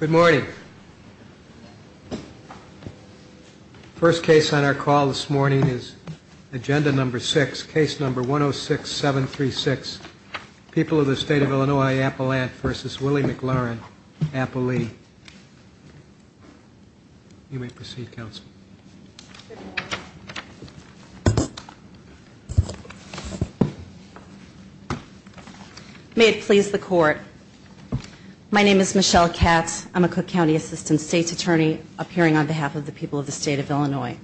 Good morning. First case on our call this morning is agenda number six, case number 106736, People of the State of Illinois Appelant v. Willie McLaurin, Applee. You may proceed, Counsel. May it please the Court. My name is Michelle Katz. I'm a Cook County Assistant State's Attorney appearing on behalf of the people of the State of Illinois.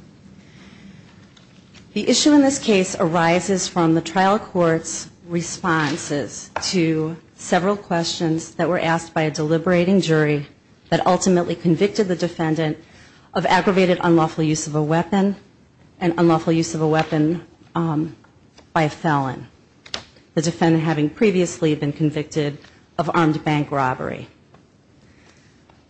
The issue in this case arises from the trial court's responses to several questions that were asked by a deliberating jury that ultimately convicted the defendant of aggravated unlawful assault. And unlawful use of a weapon by a felon, the defendant having previously been convicted of armed bank robbery.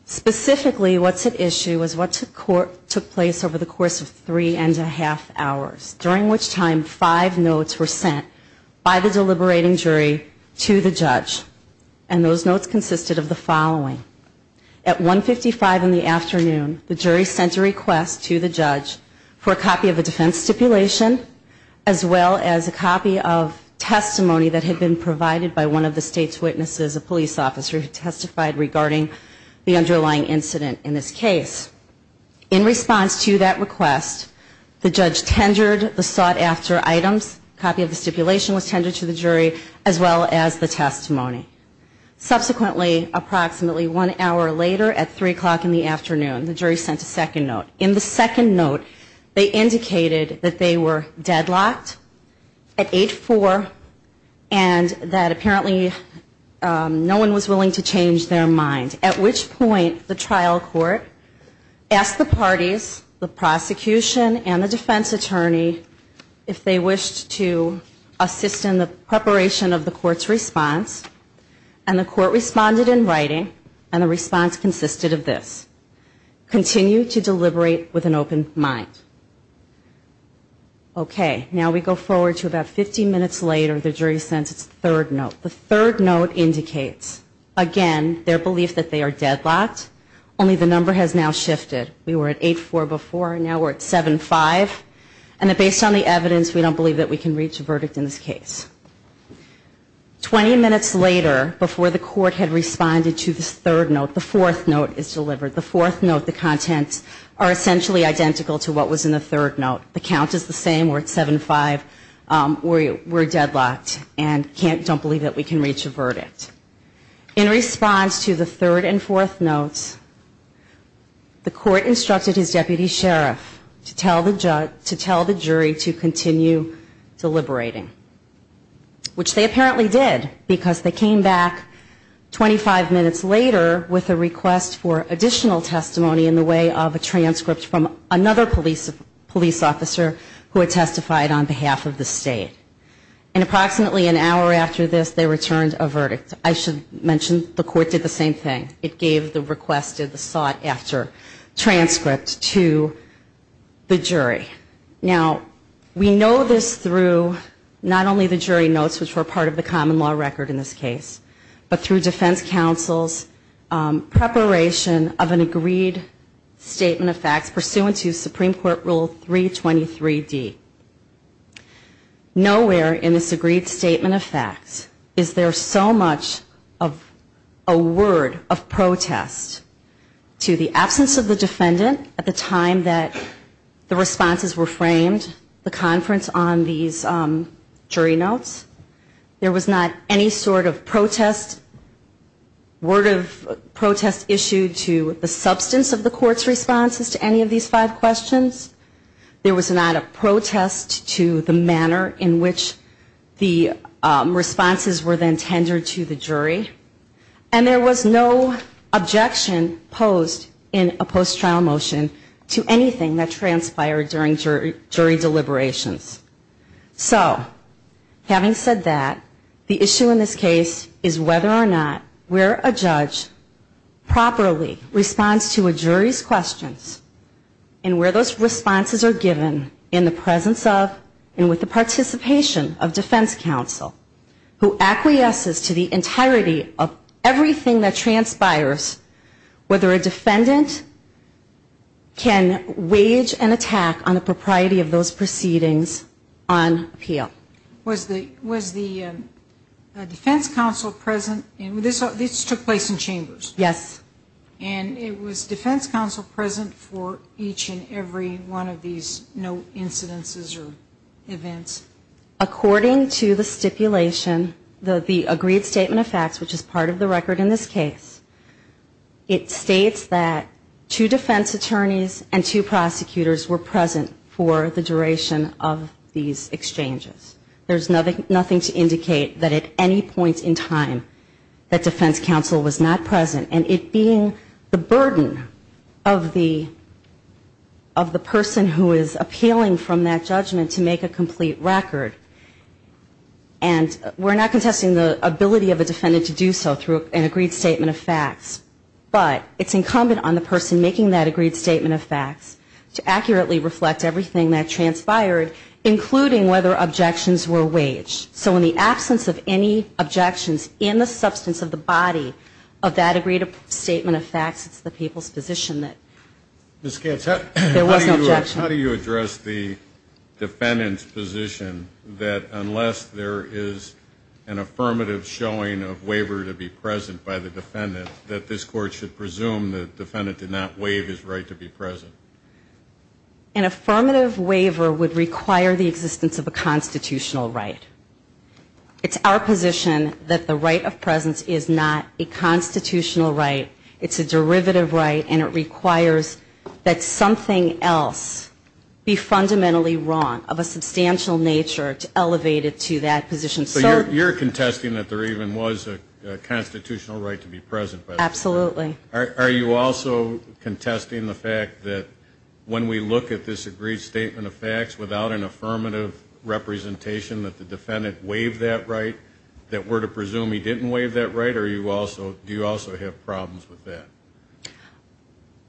Specifically what's at issue is what took place over the course of three and a half hours, during which time five notes were sent by the deliberating jury to the judge. And those notes consisted of the following. A copy of a defense stipulation, as well as a copy of testimony that had been provided by one of the State's witnesses, a police officer, who testified regarding the underlying incident in this case. In response to that request, the judge tendered the sought-after items, a copy of the stipulation was tendered to the jury, as well as the testimony. Subsequently, approximately one hour later, at three o'clock in the afternoon, the jury sent a second note. They indicated that they were deadlocked at 8-4, and that apparently no one was willing to change their mind. At which point the trial court asked the parties, the prosecution and the defense attorney, if they wished to assist in the preparation of the court's response. And the court responded in writing, and the response consisted of this. Continue to deliberate with an open mind. Okay, now we go forward to about 15 minutes later, the jury sends its third note. The third note indicates, again, their belief that they are deadlocked, only the number has now shifted. We were at 8-4 before, now we're at 7-5, and based on the evidence, we don't believe that we can reach a verdict in this case. Twenty minutes later, before the court had responded to this third note, the fourth note is delivered. The fourth note, the contents are essentially identical to what was in the third note. The count is the same, we're at 7-5, we're deadlocked, and don't believe that we can reach a verdict. In response to the third and fourth notes, the court instructed his deputy sheriff to tell the jury to continue deliberating. Which they apparently did, because they came back 25 minutes later with a request for additional testimony in the way of a transcript from another police officer who had testified on behalf of the state. And approximately an hour after this, they returned a verdict. I should mention the court did the same thing. It gave the requested, the sought after transcript to the jury. Now, we know this through not only the jury notes, which were part of the common law record in this case, but through defense counsel's preparation of an agreed statement of facts pursuant to Supreme Court Rule 323D. Nowhere in this agreed statement of facts is there so much of a word of protest to the absence of the defendant at the time that the responses were framed, the conference on these jury notes. There was not any sort of protest, word of protest issued to the substance of the court's responses to any of these five questions. There was not a protest to the manner in which the responses were then tendered to the jury. And there was no objection posed in a post-trial motion to anything that transpired during jury deliberations. So having said that, the issue in this case is whether or not where a judge properly responds to a jury's questions, and where those responses are, and where those responses are given in the presence of, and with the participation of defense counsel, who acquiesces to the entirety of everything that transpires, whether a defendant can wage an attack on the propriety of those proceedings on appeal. Was the defense counsel present, and this took place in chambers. Yes. And it was defense counsel present for each and every one of these note incidences or events? According to the stipulation, the agreed statement of facts, which is part of the record in this case, it states that two defense attorneys and two prosecutors were present for the duration of these exchanges. There's nothing to indicate that at any point in time that defense counsel was not present. And it being the burden of the person who is appealing from that judgment to make a complete record, and we're not contesting the ability of a defendant to do so through an agreed statement of facts, but it's incumbent on the person making that agreed statement of facts to accurately reflect everything that transpired, including whether objections were waged. So in the absence of any objections in the substance of the body of that agreed statement of facts, it's the people's position that there was no objection. How do you address the defendant's position that unless there is an affirmative showing of waiver to be present by the defendant, that this court should presume the defendant did not waive his right to be present? An affirmative waiver would require the existence of a constitutional right. It's our position that the right of presence is not a constitutional right. It's a derivative right, and it requires that something else be fundamentally wrong of a substantial nature to elevate it to that position. So you're contesting that there even was a constitutional right to be present by the defendant? Absolutely. Are you also contesting the fact that when we look at this agreed statement of facts without an affirmative representation that the defendant waived that right, that we're to presume he didn't waive that right, or do you also have problems with that?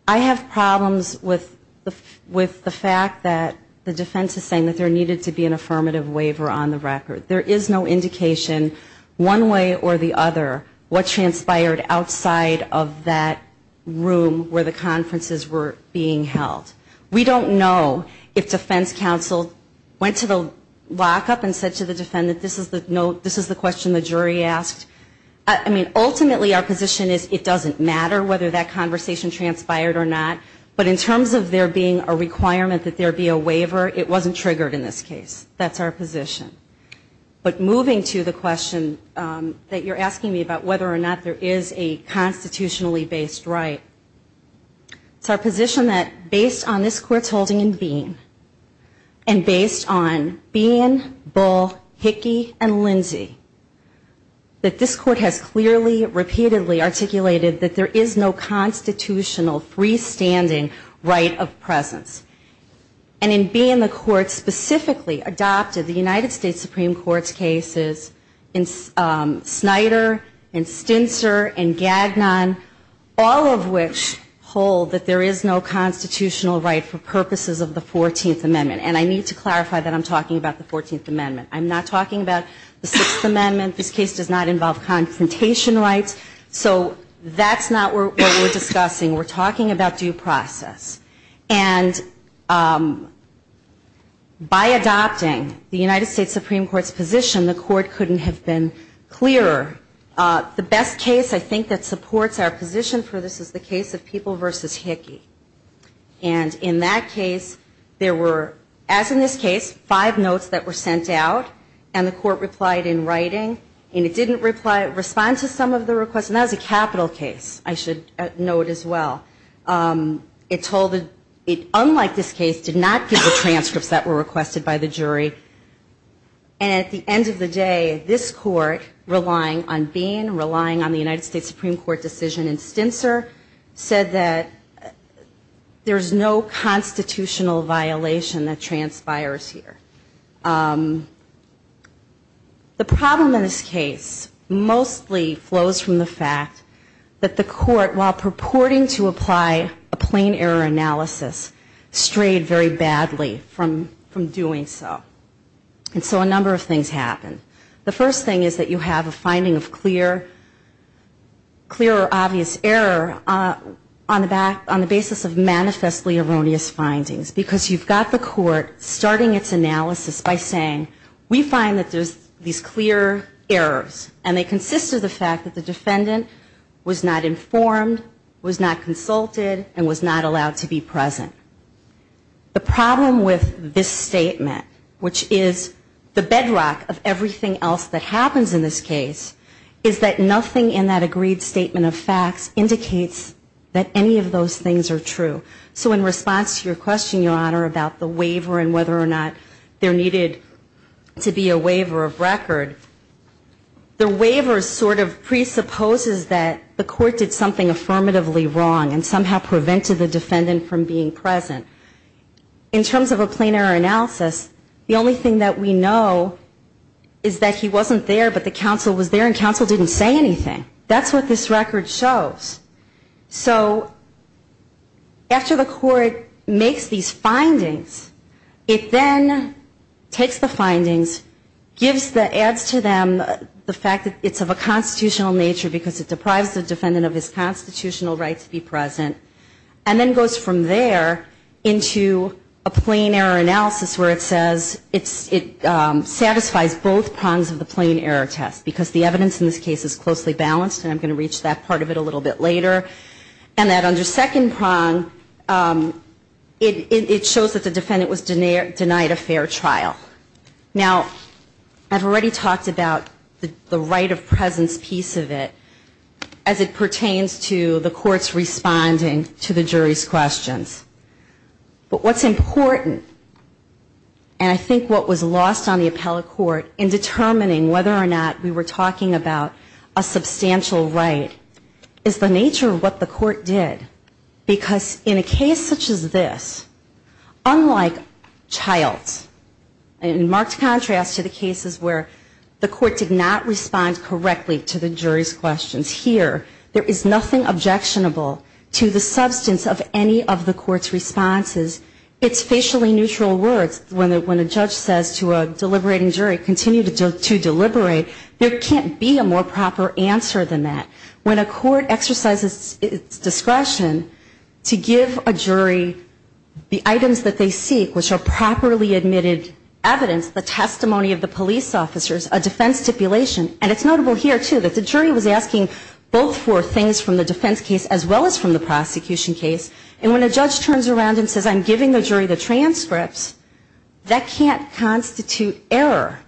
I have problems with the fact that the defense is saying that there needed to be an affirmative waiver on the record. There is no indication one way or the other what transpired outside of that room where the conferences were being held. We don't know if defense counsel went to the lockup and said to the defendant, this is the question the jury asked. I mean, ultimately our position is it doesn't matter whether that conversation transpired or not, but in terms of there being a constitutional right to be present, there is a constitutional right to be present. But moving to the question that you're asking me about whether or not there is a constitutionally based right, it's our position that based on this Court's holding in Bean, and based on Bean, Bull, Hickey, and Lindsey, that this Court has clearly, repeatedly articulated that there is no constitutional freestanding right of presence. And in Bean, the Court specifically adopted the United States Supreme Court's cases in Snyder and Stintzer and Gagnon, all of which hold that there is no constitutional right for purposes of the 14th Amendment. And I need to clarify that I'm talking about the 14th Amendment. I'm not talking about the 6th Amendment. This case does not involve constitutional rights or confrontation rights. So that's not what we're discussing. We're talking about due process. And by adopting the United States Supreme Court's position, the Court couldn't have been clearer. The best case I think that supports our position for this is the case of People v. Hickey. And in that case, there were, as in this case, five notes that were sent out, and the Court replied in writing, and it didn't reply to some of the requests. And that was a capital case. I should note as well. It told, unlike this case, did not give the transcripts that were requested by the jury. And at the end of the day, this Court, relying on Bean, relying on the United States Supreme Court decision in Stintzer, said that there's no constitutional violation that transpires here. The problem in this case mostly flows from the fact that the Court, while purporting to apply a plain error analysis, strayed very badly from doing so. And so a number of things happened. The first thing is that you have a finding of clear or obvious error on the basis of manifestly erroneous findings. Because you've got the Court starting its analysis by saying, we find that there's these clear errors, and they consist of the fact that the defendant was not informed, was not consulted, and was not allowed to be present. The problem with this statement, which is the bedrock of everything else that happens in this case, is that nothing in that agreed statement of facts indicates that any of those things are true. So in response to your question, Your Honor, about the waiver and whether or not there needed to be a waiver of record, the waiver sort of presupposes that the Court did something affirmatively wrong and somehow prevented the defendant from being present. In terms of a plain error analysis, the only thing that we know is that he wasn't there, but the counsel was there, and counsel didn't say anything. That's what this record shows. So after the Court makes these findings, it then takes the findings, adds to them the fact that it's of a constitutional nature because it deprives the defendant of his constitutional right to be present, and then goes from there into a plain error analysis where it says it satisfies both prongs of the plain error test. Because the evidence in this case is closely balanced, and I'm going to get to that a little bit later, and that under second prong, it shows that the defendant was denied a fair trial. Now, I've already talked about the right of presence piece of it as it pertains to the Court's responding to the jury's questions. But what's important, and I think what was lost on the appellate court in determining whether or not we were talking about a substantial right, is the nature of what the Court did. Because in a case such as this, unlike Childs, in marked contrast to the cases where the Court did not respond correctly to the jury's questions here, there is nothing objectionable to the substance of any of the Court's responses. It's facially neutral words. When a judge says to a deliberating jury, continue to deliberate, there can't be a more proper answer than that. When a court exercises its discretion to give a jury the items that they seek, which are properly admitted evidence, the testimony of the police officers, a defense stipulation, and it's notable here, too, that the jury was asking both for things from the defense case as well as from the prosecution case. And when a judge turns around and says, I'm giving the jury the transcripts, that can't constitute error.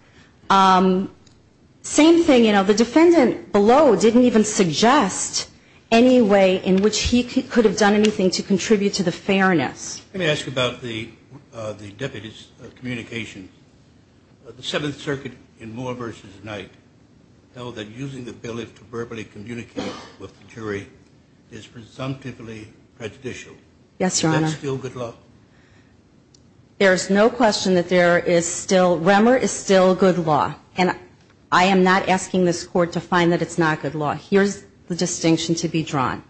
Same thing, you know, the defendant below didn't even suggest any way in which he could have done anything to contribute to the fairness. Let me ask you about the deputies' communication. The Seventh Circuit in Moore v. Knight held that using the bill to verbally communicate with the jury is presumptively prejudicial. Is that still good law? There's no question that there is still, REMER is still good law. And I am not asking this Court to find that it's not good law. Here's the distinction to be drawn.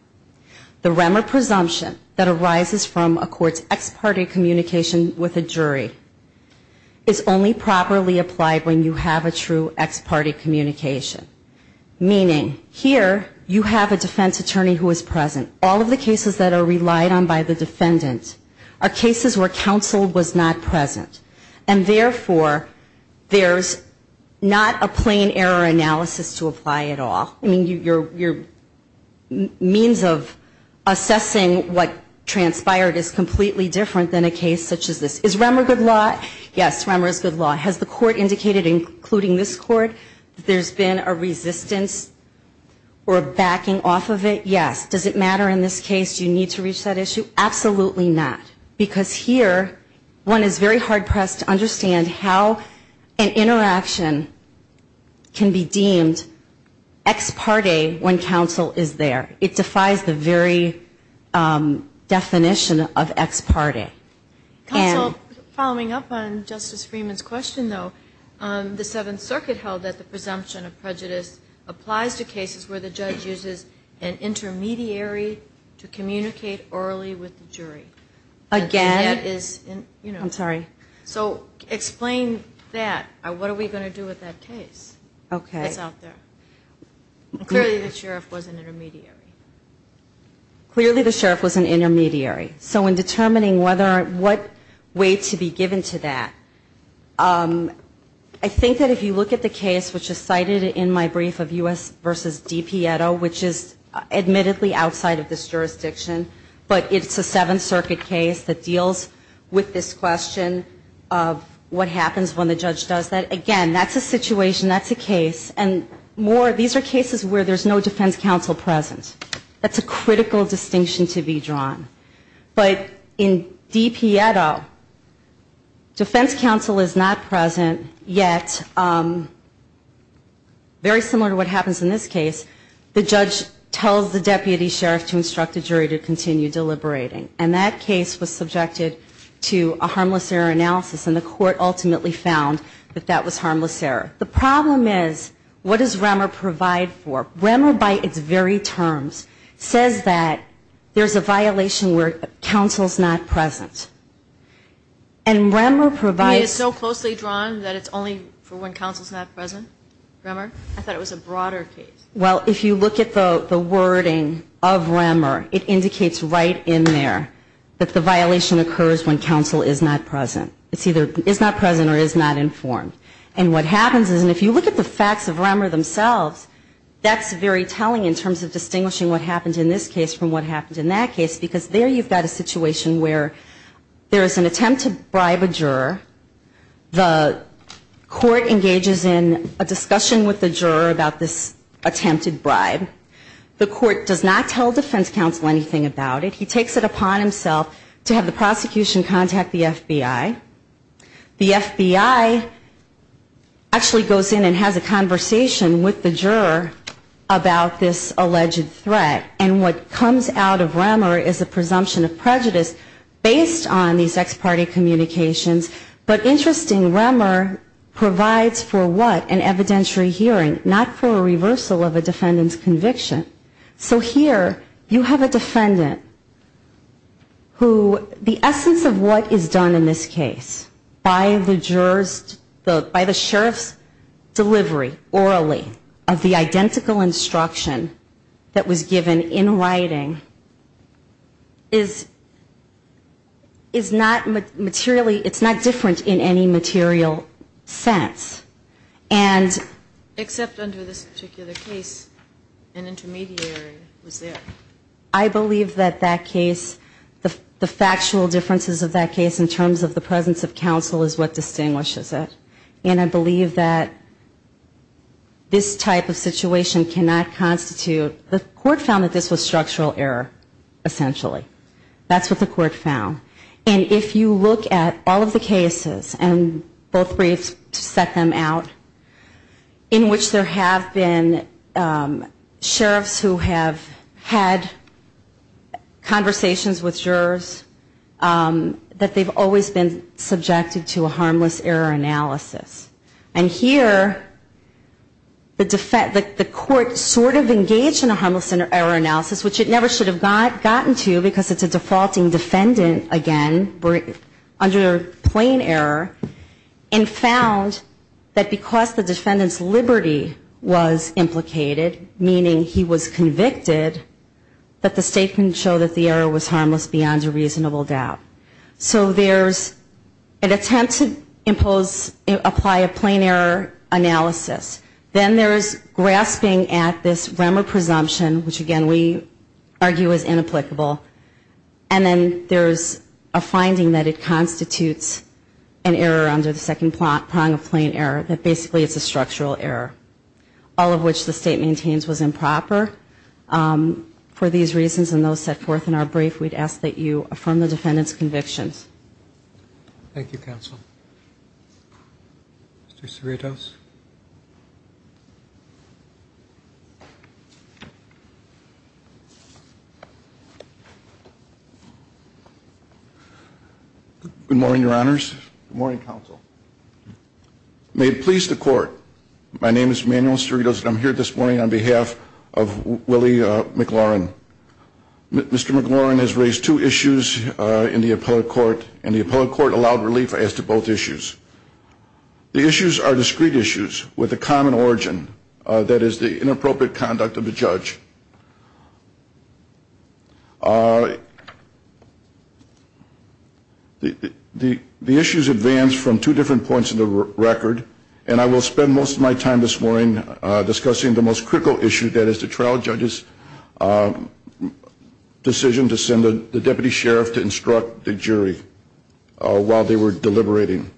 The REMER presumption that arises from a court's ex parte communication with a jury is only properly applied when you have a true ex parte communication. Meaning, here, you have a defense attorney who is present. All of the cases where counsel was not present. And therefore, there's not a plain error analysis to apply at all. I mean, your means of assessing what transpired is completely different than a case such as this. Is REMER good law? Yes, REMER is good law. Has the Court indicated, including this Court, that there's been a resistance or a backing off of it? Yes. Does it matter in this case, do you need to reach that issue? Absolutely not. Because here, one is very hard pressed to understand how an interaction can be deemed ex parte when counsel is there. It defies the very definition of ex parte. Counsel, following up on Justice Freeman's question, though, the Seventh Circuit held that the presumption of prejudice applies to cases where the judge uses an intermediary to communicate orally with the jury. Again? I'm sorry. So explain that. What are we going to do with that case that's out there? Clearly, the sheriff was an intermediary. Clearly, the sheriff was an intermediary. So in determining what way to be given to that, I think that if you look at the case which is cited in my brief of U.S. versus DiPietro, which is admittedly outside of this jurisdiction, but it's a Seventh Circuit case that deals with this question of what happens when the judge does that. Again, that's a situation, that's a case. And more, these are cases where there's no defense counsel present. That's a critical distinction to be drawn. But in DiPietro, defense counsel is not present. In this case, the judge tells the deputy sheriff to instruct the jury to continue deliberating. And that case was subjected to a harmless error analysis. And the court ultimately found that that was harmless error. The problem is, what does Remmer provide for? Remmer, by its very terms, says that there's a violation where counsel's not present. And Remmer provides It's so closely drawn that it's only for when counsel's not present, Remmer? I thought it was a broader case. Well, if you look at the wording of Remmer, it indicates right in there that the violation occurs when counsel is not present. It's either is not present or is not informed. And what happens is, and if you look at the facts of Remmer themselves, that's very telling in terms of distinguishing what happens in this case from what happens in that case, because there you've got a situation where there is an attempt to bribe a juror. The court engages in a discussion with the juror about this attempted bribe. The court does not tell defense counsel anything about it. He takes it upon himself to have the prosecution contact the FBI. The FBI actually goes in and has a conversation with the juror about this alleged threat. And what comes out of Remmer is a presumption of prejudice based on these ex parte communications. But interesting, Remmer provides for what? An evidentiary hearing, not for a reversal of a defendant's conviction. So here you have a defendant who the essence of what is done in this case by the juror's, by the sheriff's delivery orally of the identical instruction that was given in writing is not materially, it's not different in any material sense. It's not the same. It's not the same. It's not the same except under this particular case an intermediary was there. I believe that that case, the factual differences of that case in terms of the presence of counsel is what distinguishes it. And I believe that this type of situation cannot constitute, the court found that this was structural error essentially. That's what the court found. And if you look at all of the cases and both cases, in which there have been sheriffs who have had conversations with jurors, that they've always been subjected to a harmless error analysis. And here the court sort of engaged in a harmless error analysis, which it never should have gotten to because it's a defaulting defendant again under plain error, and found that because the jurors have always been subject to a harmless error analysis, because the defendant's liberty was implicated, meaning he was convicted, that the state can show that the error was harmless beyond a reasonable doubt. So there's an attempt to impose, apply a plain error analysis. Then there's grasping at this remor presumption, which again we argue is inapplicable. And then there's a finding that it constitutes an error under the second category, which is a structural error. All of which the state maintains was improper. For these reasons and those set forth in our brief, we'd ask that you affirm the defendant's convictions. Thank you, counsel. Mr. Cerritos. Good morning, your honors. Good morning, counsel. May it please the court, my name is Manuel Cerritos, and I'm here this morning on behalf of Willie McLaurin. Mr. McLaurin has raised two issues in the appellate court, and the appellate court allowed relief as to both issues with a common origin, that is the inappropriate conduct of the judge. The issues advance from two different points in the record, and I will spend most of my time this morning discussing the most critical issue, that is the trial judge's decision to send the deputy sheriff to instruct the jury while they were deliberating.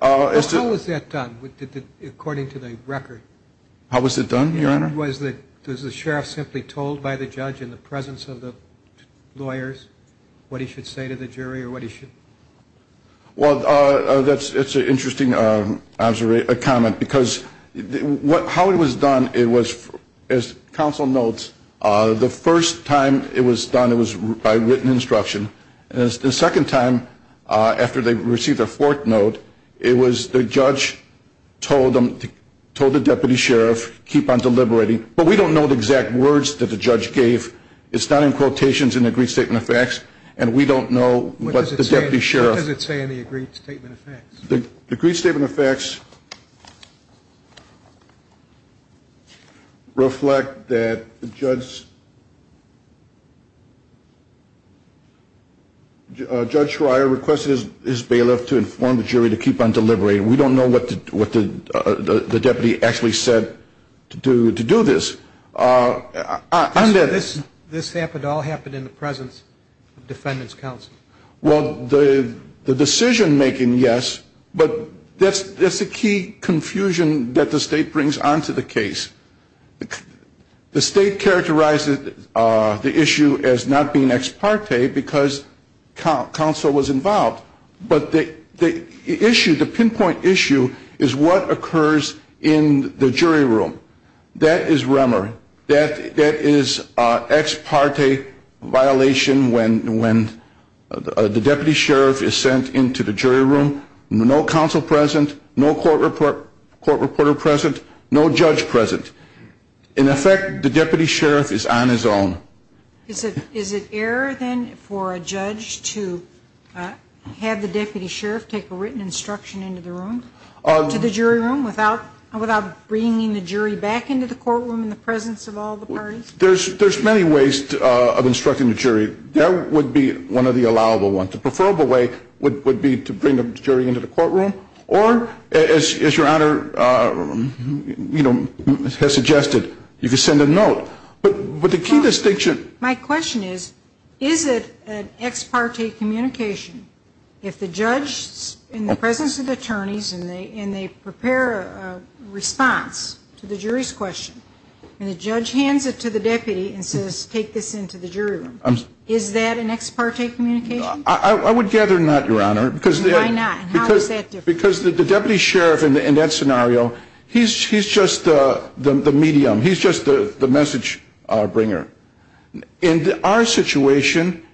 How was that done, according to the record? How was it done, your honor? Was the sheriff simply told by the judge in the presence of the lawyers what he should say to the jury or what he should? Well, that's an interesting comment, because how it was done, it was, as counsel notes, the first time it was done, it was by written instruction. The second time, after they received the instruction, it was by written instruction. And the third time, after they received the fourth note, it was the judge told the deputy sheriff, keep on deliberating. But we don't know the exact words that the judge gave. It's not in quotations in the agreed statement of facts, and we don't know what the deputy sheriff... What does it say in the agreed statement of facts? The agreed statement of facts reflect that Judge Schreier requested his bailiff to instruct the jury to keep on deliberating. We don't know what the deputy actually said to do this. This all happened in the presence of defendants' counsel? Well, the decision-making, yes, but that's the key confusion that the State brings onto the case. The State characterized the issue as not being ex parte, because counsel was involved. But the issue, the pinpoint issue, is what occurs in the jury room. That is rumor. That is ex parte violation when the deputy sheriff is sent into the jury room, no counsel present, no court reporter present, no judge present. In effect, the deputy sheriff is on his own. Is there an error, then, for a judge to have the deputy sheriff take a written instruction into the room, to the jury room, without bringing the jury back into the courtroom in the presence of all the parties? There's many ways of instructing the jury. That would be one of the allowable ones. The preferable way would be to bring the jury into the courtroom. Or, as Your Honor has suggested, you could send a note. But the key distinction... My question is, is it an ex parte communication if the judge, in the presence of the attorneys, and they prepare a response to the jury's question, and the judge hands it to the deputy and says, take this into the jury room. Is that an ex parte communication? I would gather not, Your Honor. Why not? And how is that different? Because the deputy sheriff, in that scenario, he's just the medium. He's just the message bringer. In our situation,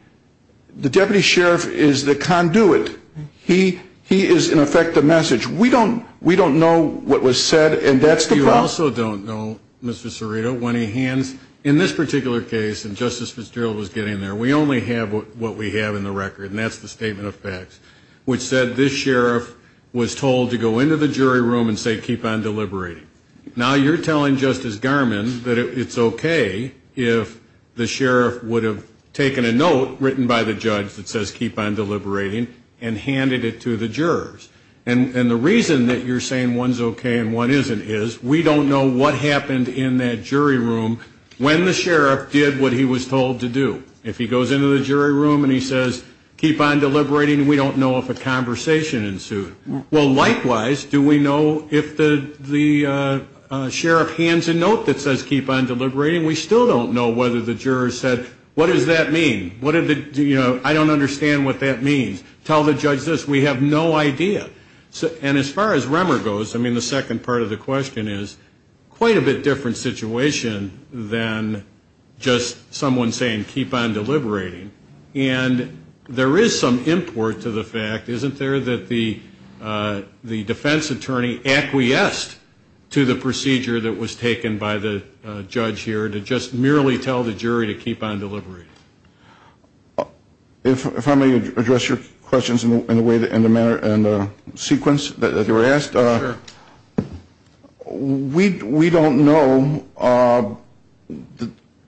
the deputy sheriff is the conduit. He is, in effect, the message. We don't know what was said, and that's the problem. You also don't know, Mr. Cerrito, when he hands... In this particular case, and Justice Fitzgerald was getting there, we only have what we have in the record, and that's the statement of facts, which said this sheriff was told to go into the jury room and say, keep on deliberating. Now you're telling Justice Garmon that it's okay if the sheriff would have taken a note written by the judge that says, keep on deliberating, and handed it to the jurors. And the reason that you're saying one's okay and one isn't is we don't know what happened in that jury room when the sheriff did what he was told to do. If he goes into the jury room and he says, keep on deliberating, we don't know if a conversation ensued. Well, likewise, do we know if the sheriff hands a note that says, keep on deliberating, we still don't know whether the jurors said, what does that mean? What did the... I don't understand what that means. Tell the judge this. We have no idea. And as far as Remmer goes, I mean, the second part of the question is, quite a bit different situation than just someone saying, keep on deliberating. And there is some import to the fact, isn't there, that the jury would have said, keep on deliberating? The defense attorney acquiesced to the procedure that was taken by the judge here to just merely tell the jury to keep on deliberating. If I may address your questions in the manner and sequence that you were asked. Sure. We don't know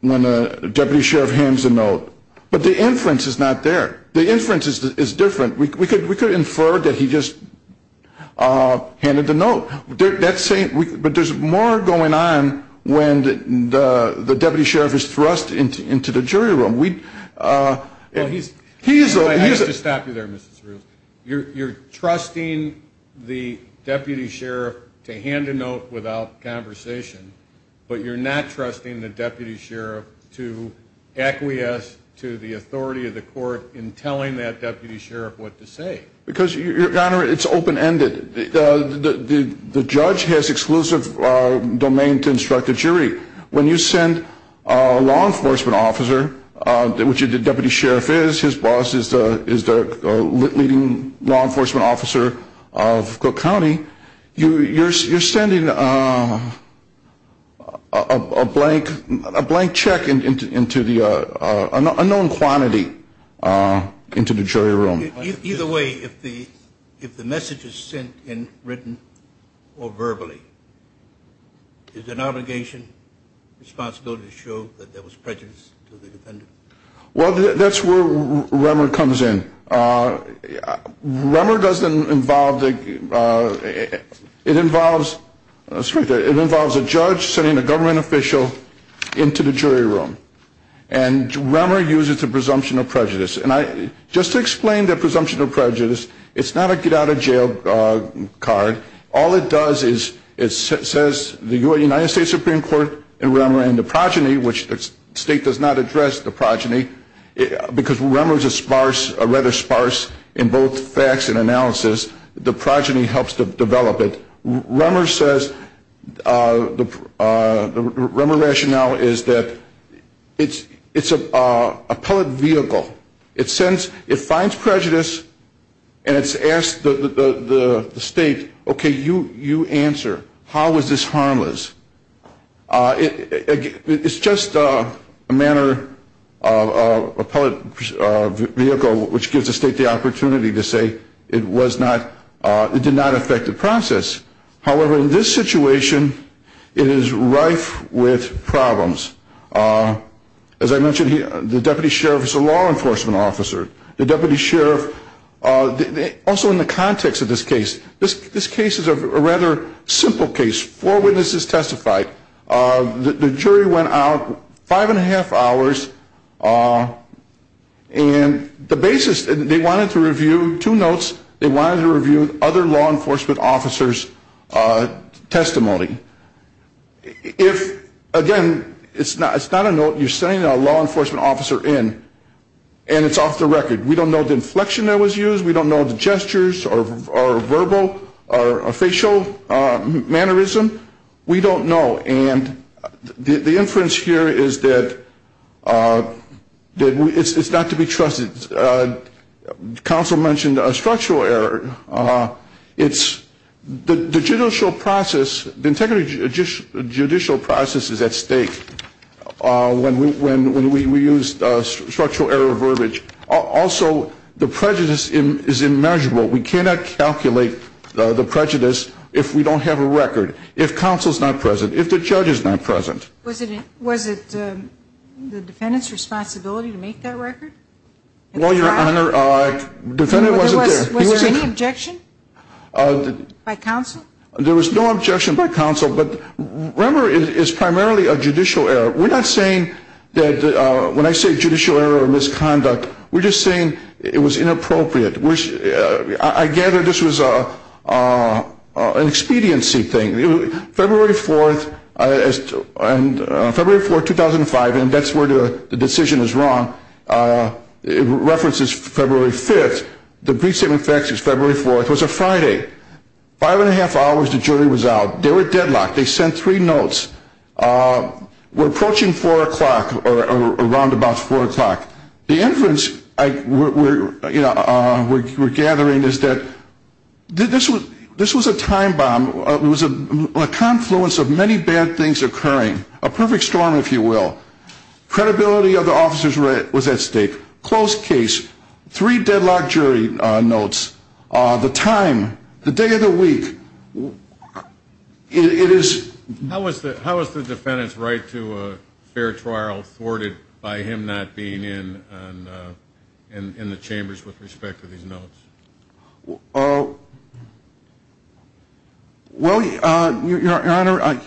when a deputy sheriff hands a note. But the inference is not there. The inference is different. We could infer that he just handed a note. But there's more going on when the deputy sheriff is thrust into the jury room. I used to stop you there, Mr. Cerullo. You're trusting the deputy sheriff to hand a note without conversation, but you're not trusting the deputy sheriff to acquiesce to the authority of the court in telling that deputy sheriff what to say. Because, Your Honor, it's open-ended. The judge has exclusive domain to instruct the jury. When you send a law enforcement officer, which the deputy sheriff is, his boss is the leading law enforcement officer of Cook County, you're sending a blank check into the unknown quantity into the jury room. Either way, if the message is sent in written or verbally, is it our obligation, responsibility to show that there was prejudice to the defendant? Well, that's where Remmer comes in. Remmer doesn't involve the, it involves, it involves a judge sending a government official into the jury room. And Remmer uses the presumption of prejudice. And I, just to explain the presumption of prejudice, it's not a get-out-of-jail card. All it does is, it says the United States Supreme Court and Remmer and the progeny, which the state does not address the progeny, because Remmer is a sparse, rather sparse in both facts and analysis, the progeny helps to develop it. Remmer says, the Remmer rationale is that, if the progeny, if the progeny, if the progeny, if the progeny, if the progeny, if the progeny, it's a, it's a, it's a, it's a, it's a pellet vehicle. It sends, it finds prejudice and it's asked the, the, the state, okay, you, you answer, how was this harmless. It, it's just a manner, a pellet vehicle, which gives the state the opportunity to say it was not, it did not affect the process. However, in this situation, it is rife with problems. As I mentioned here, the deputy sheriff is a law enforcement officer. The deputy sheriff, also in the context of this case, this, this case is a rather simple case. Four witnesses testified. The jury went out five and a half hours, and the basis, they wanted to review two notes. They wanted to review other law enforcement officers' testimony. If, again, it's not, it's not a note you send out. You're sending a law enforcement officer in, and it's off the record. We don't know the inflection that was used. We don't know the gestures or verbal or facial mannerism. We don't know. And the inference here is that, that it's not to be trusted. Counsel mentioned a structural error. It's, the judicial process, the integrity judicial process is at stake. When we use structural error verbiage. Also, the prejudice is immeasurable. We cannot calculate the prejudice if we don't have a record, if counsel's not present, if the judge is not present. Was it the defendant's responsibility to make that record? Well, Your Honor, defendant wasn't there. Was there any objection by counsel? No. We're not saying that, when I say judicial error or misconduct, we're just saying it was inappropriate. I gather this was an expediency thing. February 4th, 2005, and that's where the decision is wrong, it references February 5th. The brief statement of facts is February 4th. It was a Friday. Five and a half hours, the jury was out. They were deadlocked. They sent three notes. We're approaching four o'clock, or around about four o'clock. The inference we're gathering is that this was a time bomb. It was a confluence of many bad things occurring. A perfect storm, if you will. Credibility of the officers was at stake. Close case, three deadlocked jury notes, the time, the day of the week. How is the defendant's right to a fair trial thwarted by him not being in the chambers with respect to these notes? Well, Your Honor,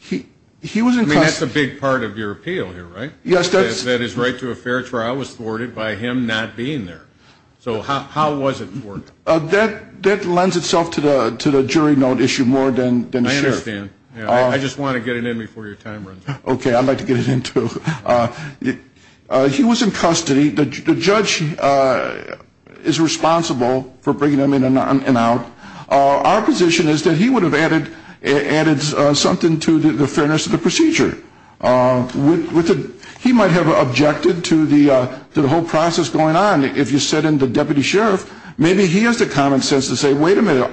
he was in custody. I mean, that's a big part of your appeal here, right? That his right to a fair trial was thwarted by him not being there. So how was it thwarted? That lends itself to the jury note issue more than the sheriff. I understand. I just want to get it in before your time runs out. Okay, I'd like to get it in, too. He was in custody. The judge is responsible for bringing him in and out. Our position is that he would have added something to the fairness of the procedure. He might have objected to the whole process going on. If you sent in the deputy sheriff, maybe he has the common sense to say, well, the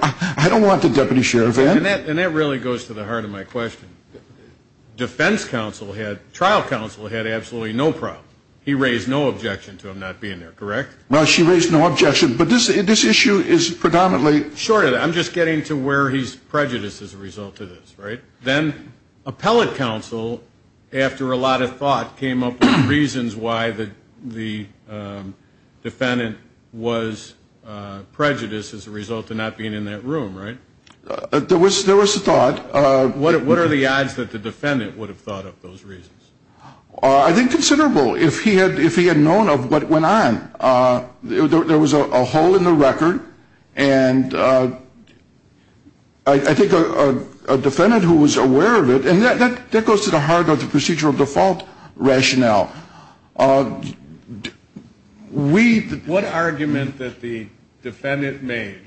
trial counsel had absolutely no problem. He raised no objection to him not being there, correct? Well, she raised no objection, but this issue is predominantly... Short of that, I'm just getting to where he's prejudiced as a result of this, right? Then appellate counsel, after a lot of thought, came up with reasons why the defendant was prejudiced as a result of not being in that room, right? There was thought. What are the odds that the defendant would have thought of those reasons? I think considerable, if he had known of what went on. There was a hole in the record, and I think a defendant who was aware of it, and that goes to the heart of the procedural default rationale. What argument that the defendant made,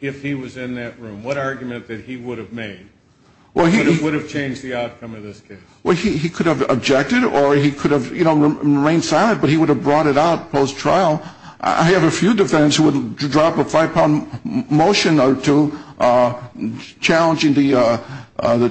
if he was in that room, what argument that he would have made that would have changed the outcome of this case? He could have objected, or he could have remained silent, but he would have brought it out post-trial. I have a few defendants who would drop a five-pound motion or two challenging the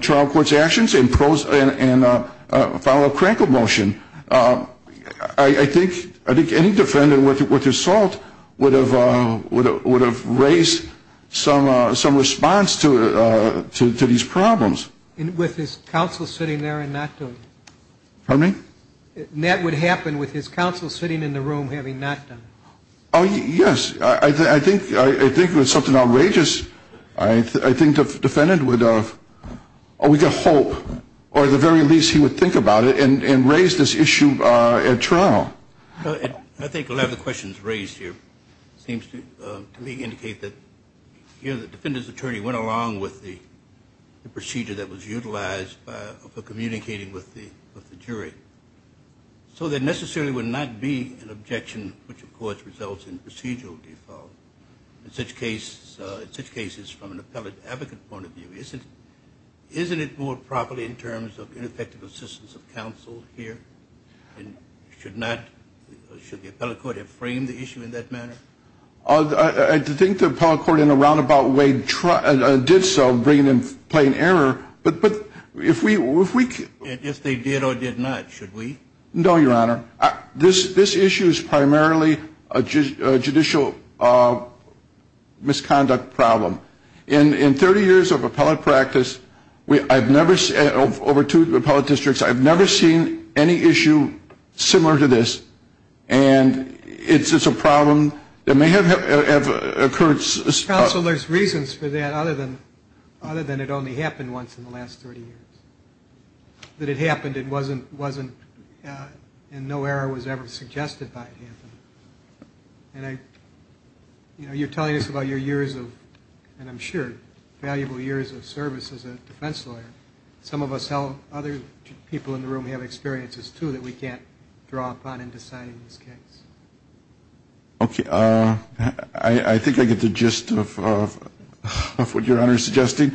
trial court's actions and file a crankle motion. I think any defendant with assault would have raised some response to these problems. With his counsel sitting there and not doing it? That would happen with his counsel sitting in the room having not done it? Yes, I think it was something outrageous. I think the defendant would have, we could hope, or at the very least he would think about it and raise this issue at trial. I think a lot of the questions raised here seem to me to indicate that the defendant's attorney went along with the procedure that was utilized for communicating with the jury. So there necessarily would not be an objection, which of course results in procedural default. In such cases, from an appellate advocate point of view, isn't it more properly in terms of ineffective assistance of counsel here? Should the appellate court have framed the issue in that manner? I think the appellate court in a roundabout way did so, bringing in plain error, but if we... If they did or did not, should we? No, Your Honor. This issue is primarily a judicial misconduct problem. In 30 years of appellate practice, over two appellate districts, I've never seen any issue similar to this. And it's a problem that may have occurred... So there's reasons for that, other than it only happened once in the last 30 years. That it happened and no error was ever suggested by it happening. And you're telling us about your years of, and I'm sure valuable years of service as a defense lawyer. Some of us, other people in the room have experiences, too, that we can't draw upon in deciding this case. Okay. I think I get the gist of what Your Honor is suggesting.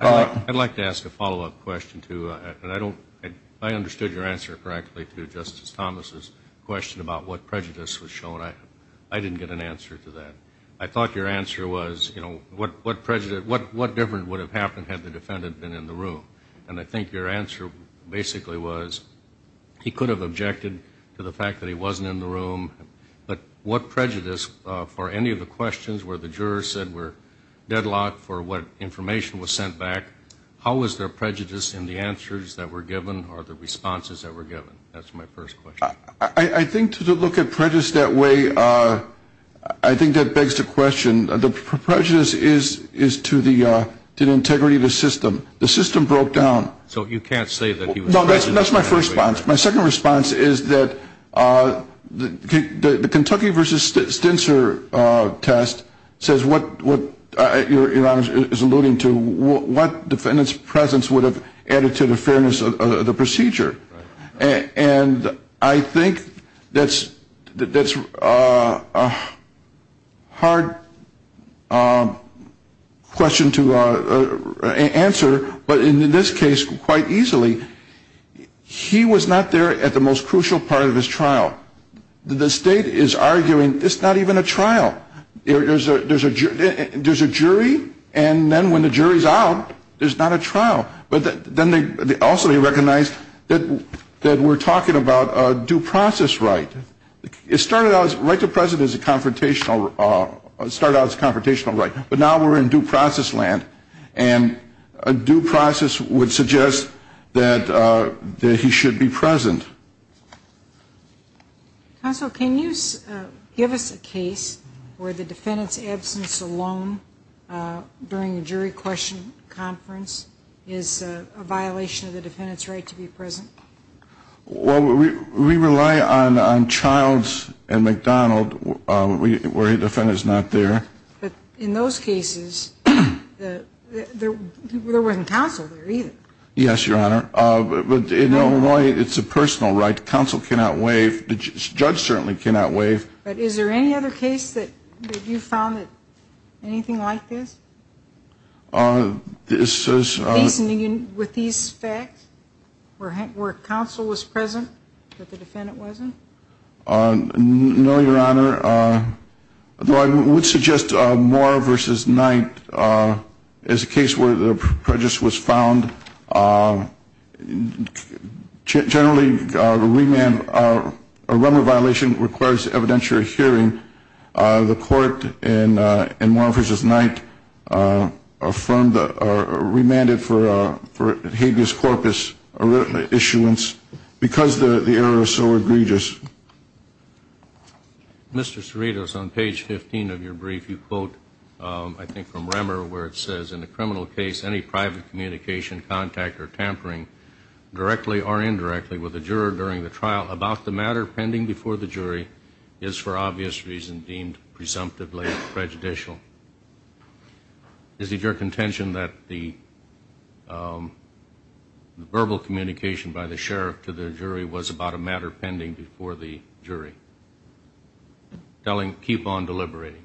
I'd like to ask a follow-up question, too. I understood your answer correctly to Justice Thomas's question about what prejudice was shown. I didn't get an answer to that. I thought your answer was, you know, what difference would have happened had the defendant been in the room? And I think your answer basically was, he could have objected to the fact that he wasn't in the room. But what prejudice, for any of the questions where the jurors said we're deadlocked, for what information was sent back, how was there prejudice in the answers that were given or the responses that were given? That's my first question. I think to look at prejudice that way, I think that begs the question. The prejudice is to the integrity of the system. The system broke down. So you can't say that he was prejudiced in that way. No, that's my first response. My second response is that the Kentucky v. Stencer test says what Your Honor is alluding to, what defendant's presence would have added to the fairness of the procedure. And I think that's a hard question to answer, but in this case, quite easily, he was not there at the most crucial part of his trial. The state is arguing it's not even a trial. There's a jury, and then when the jury's out, there's not a trial. But then also they recognize that we're talking about a due process right. It started out, right to the present is a confrontational, started out as a confrontational right. But now we're in due process land, and a due process would suggest that he should be present. Counsel, can you give us a case where the defendant's absence alone during a jury question conference is a violation of the defendant's right to be present? Well, we rely on Childs and McDonald where a defendant's not there. But in those cases, there wasn't counsel there either. Yes, Your Honor. But in Illinois, it's a personal right. Counsel cannot waive. The judge certainly cannot waive. But is there any other case that you found anything like this? This is... With these facts, where counsel was present, but the defendant wasn't? No, Your Honor. Though I would suggest Moore v. Knight as a case where the prejudice was found. Generally, a remand, a remand violation requires evidentiary hearing. The court in Moore v. Knight remanded for habeas corpus issuance because the error is so egregious. Mr. Cerritos, on page 15 of your brief, you quote, I think from Remmer, where it says, In a criminal case, any private communication, contact, or tampering, directly or indirectly with a juror during the trial about the matter pending before the jury is for obvious reasons deemed presumptively prejudicial. Is it your contention that the verbal communication by the sheriff to the jury was about a matter pending before the jury? Telling, keep on deliberating.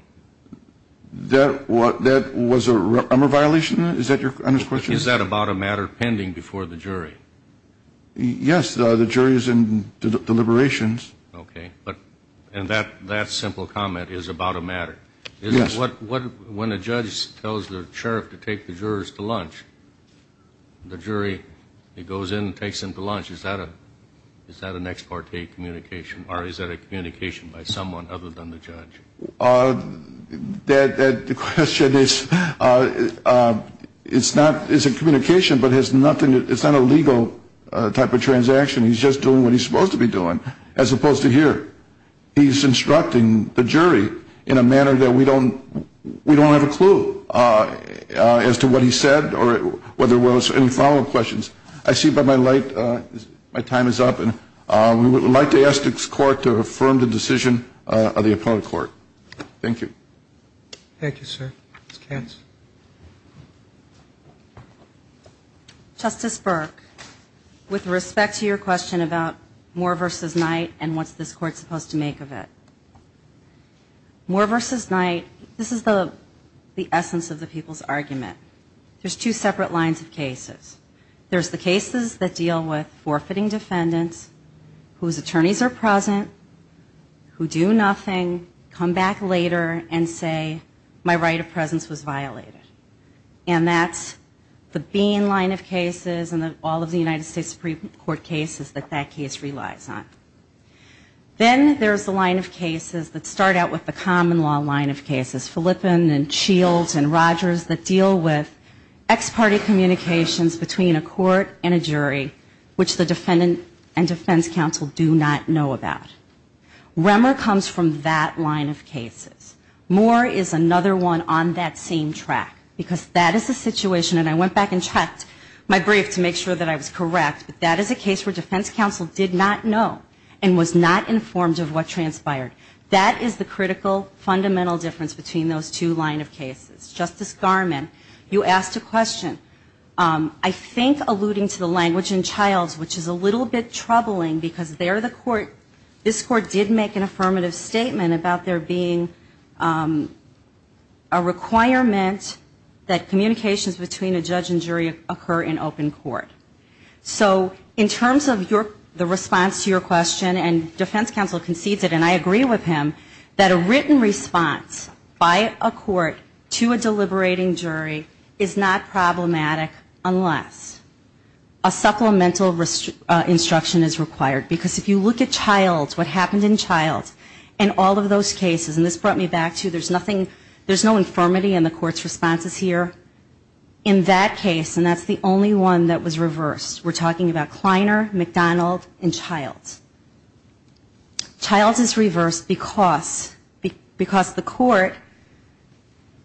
That was a Remmer violation? Is that your honest question? Is that about a matter pending before the jury? Yes. The jury is in deliberations. Okay. And that simple comment is about a matter? Yes. When a judge tells the sheriff to take the jurors to lunch, the jury goes in and takes them to lunch, is that an ex parte communication or is that a communication by someone other than the judge? The question is, it's a communication, but it's not a legal type of transaction. He's just doing what he's supposed to be doing. As opposed to here, he's instructing the jury in a manner that we don't have a clue as to what he said or whether there were any follow-up questions. I see by my light my time is up and we would like to ask this court to affirm the decision of the opponent court. Thank you. Thank you, sir. Ms. Cairns. Justice Burke, with respect to your question about Moore v. Knight and what's this court supposed to make of it, Moore v. Knight, this is the essence of the people's argument. There's two separate lines of cases. There's the cases that deal with forfeiting defendants whose attorneys are present, who do nothing, come back later and say, my right of presence was violated. And that's the Bean line of cases and all of the United States Supreme Court cases that that case relies on. Then there's the line of cases that start out with the common law line of cases, Philippen and Shields and Rogers that deal with ex-party communications between a court and a jury which the defendant and defense counsel do not know about. Remmer comes from that line of cases. Moore is another one on that same track because that is a situation, and I went back and checked my brief to make sure that I was correct, but that is a case where defense counsel did not know and was not informed of what transpired. That is the critical, fundamental difference between those two line of cases. Justice Garmon, you asked a question I think alluding to the language in Childs which is a little bit troubling because this court did make an affirmative statement about there being a requirement that communications between a judge and jury occur in open court. So in terms of the response to your question and defense counsel concedes it and I agree with him that a written response by a court to a deliberating jury is not problematic unless a supplemental instruction is required because if you look at Childs, what happened in Childs and all of those cases, and this brought me back to there's no infirmity in the court's responses here. In that case, and that's the only one that was reversed, we're talking about Kleiner, McDonald, and Childs. Childs is reversed because the court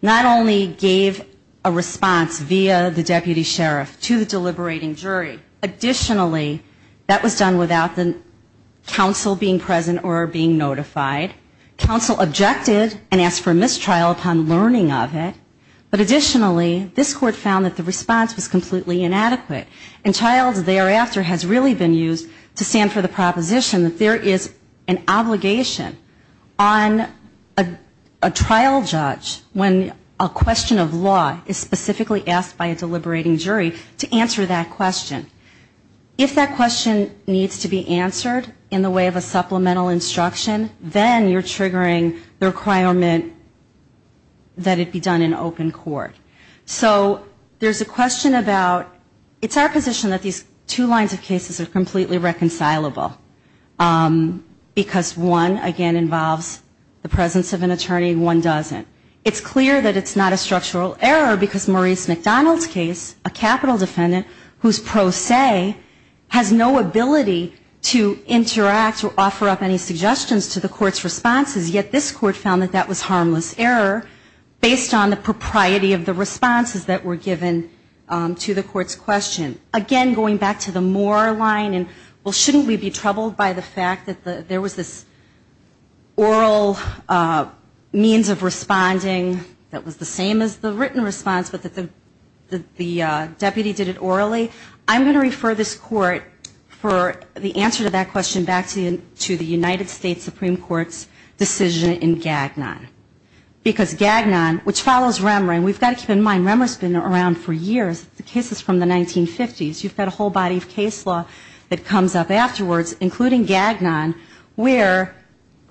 not only gave a response via the deputy sheriff to the deliberating jury, additionally that was done without the counsel being present or being notified. Counsel objected and asked for a mistrial upon learning of it but additionally this court found that the response was completely inadequate and Childs thereafter has really been used to stand for the proposition that there is an obligation on a trial judge when a question of law is specifically asked by a deliberating jury to answer that question. If that question needs to be answered in the way of a supplemental instruction, then you're triggering the requirement that it be done in open court. So there's a question about it's our position that these two lines of cases are completely reconcilable because one again involves the presence of an attorney and one doesn't. It's clear that it's not a structural error because Maurice McDonald's case, a capital defendant whose pro se has no ability to interact or offer up any suggestions to the court's responses yet this court found that that was harmless error based on the propriety of the responses that were given to the court's question. Again, going back to the Moore line well shouldn't we be troubled by the fact that there was this oral means of responding that was the same as the written response but that the deputy did it orally? I'm going to refer this court for the answer to that question back to the United States Supreme Court's decision in Gagnon because Gagnon which follows Remmer and we've got to keep in mind Remmer's been around for years the case is from the 1950s you've got a whole body of case law that comes up afterwards including Gagnon where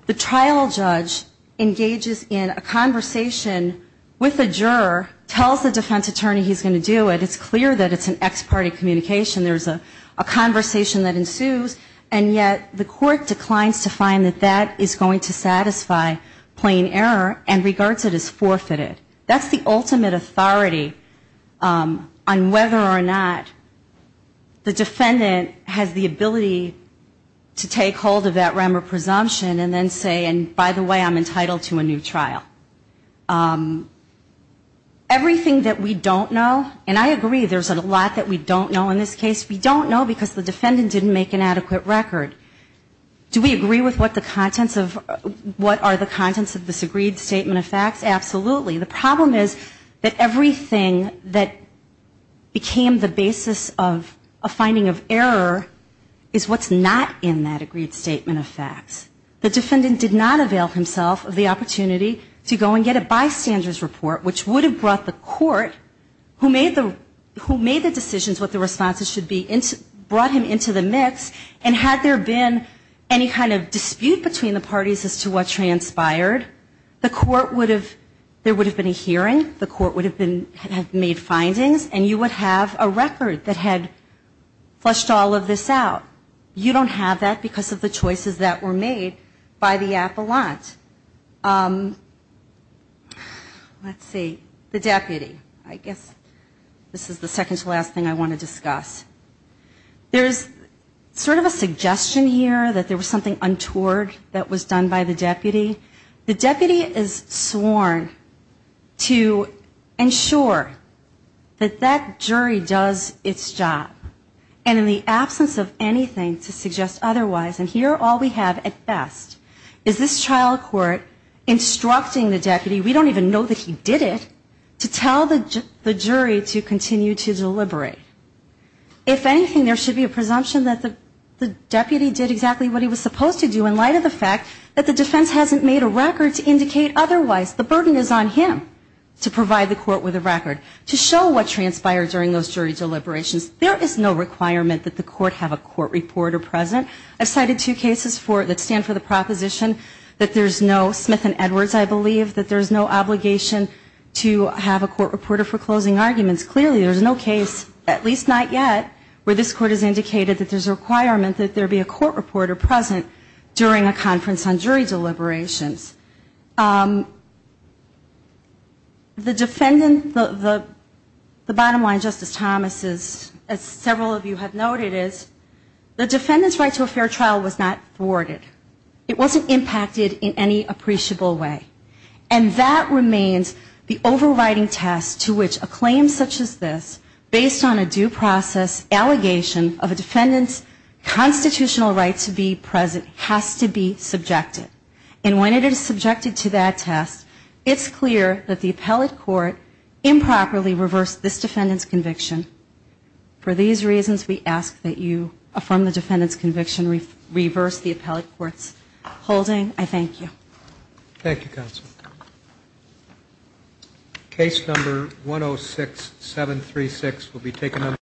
the trial judge engages in a conversation with a juror tells the defense attorney he's going to do it it's clear that it's an ex parte communication there's a conversation that ensues and yet the court declines to find that that is going to satisfy plain error and regards it as forfeited. That's the ultimate authority on whether or not the defendant has the ability to take hold of that Remmer presumption and then say and by the way I'm entitled to a new trial. Um everything that we don't know and I agree there's a lot that we don't know in this case we don't know because the defendant didn't make an adequate record. Do we agree with what the contents of what are the contents of the agreed statement of facts? Absolutely. The problem is that everything that became the basis of a finding of error is what's not in that agreed statement of facts. The defendant did not avail himself of the opportunity to go and get a bystander's report which would have brought the court who made the decisions what the responses should be brought him into the mix and had there been any kind of dispute between the parties as to what transpired the court would have there would have been a hearing the court would have made findings and you would have a record that had flushed all of this out. You don't have that because of the choices that were made by the appellant. Let's see the deputy I guess this is the second to last thing I want to discuss. There's sort of a suggestion here that there was something untoward that was done by the deputy. The deputy is sworn to ensure that that jury does its job and in the absence of anything to suggest otherwise and here all we have at best is this trial court instructing the deputy we don't even know that he did it to tell the jury to continue to deliberate. If anything there should be a presumption that the deputy did exactly what he was supposed to do in light of the fact that the defense hasn't made a record to indicate otherwise. The burden is on him to provide the court with a record to show what transpired during those jury deliberations. There is no requirement that the court have a court reporter present. I cited two cases that stand for the proposition that there is no Smith and Edwards I believe that there is no obligation to have a court reporter for closing arguments. Clearly there is no case, at least not yet, where this court has indicated that there is a requirement that there be a court reporter present during a conference on jury deliberations. The defendant, the bottom line Justice Thomas as several of you have noted is the defendant's right to a fair trial was not thwarted. It wasn't impacted in any appreciable way. And that remains the overriding test to which a claim such as this based on a due process allegation of a defendant's constitutional right to be present has to be subjected. And when it is subjected to that test, it's clear that the appellate court improperly reversed this defendant's conviction. For these reasons, we ask that you affirm the defendant's conviction, reverse the appellate court's holding. I thank you.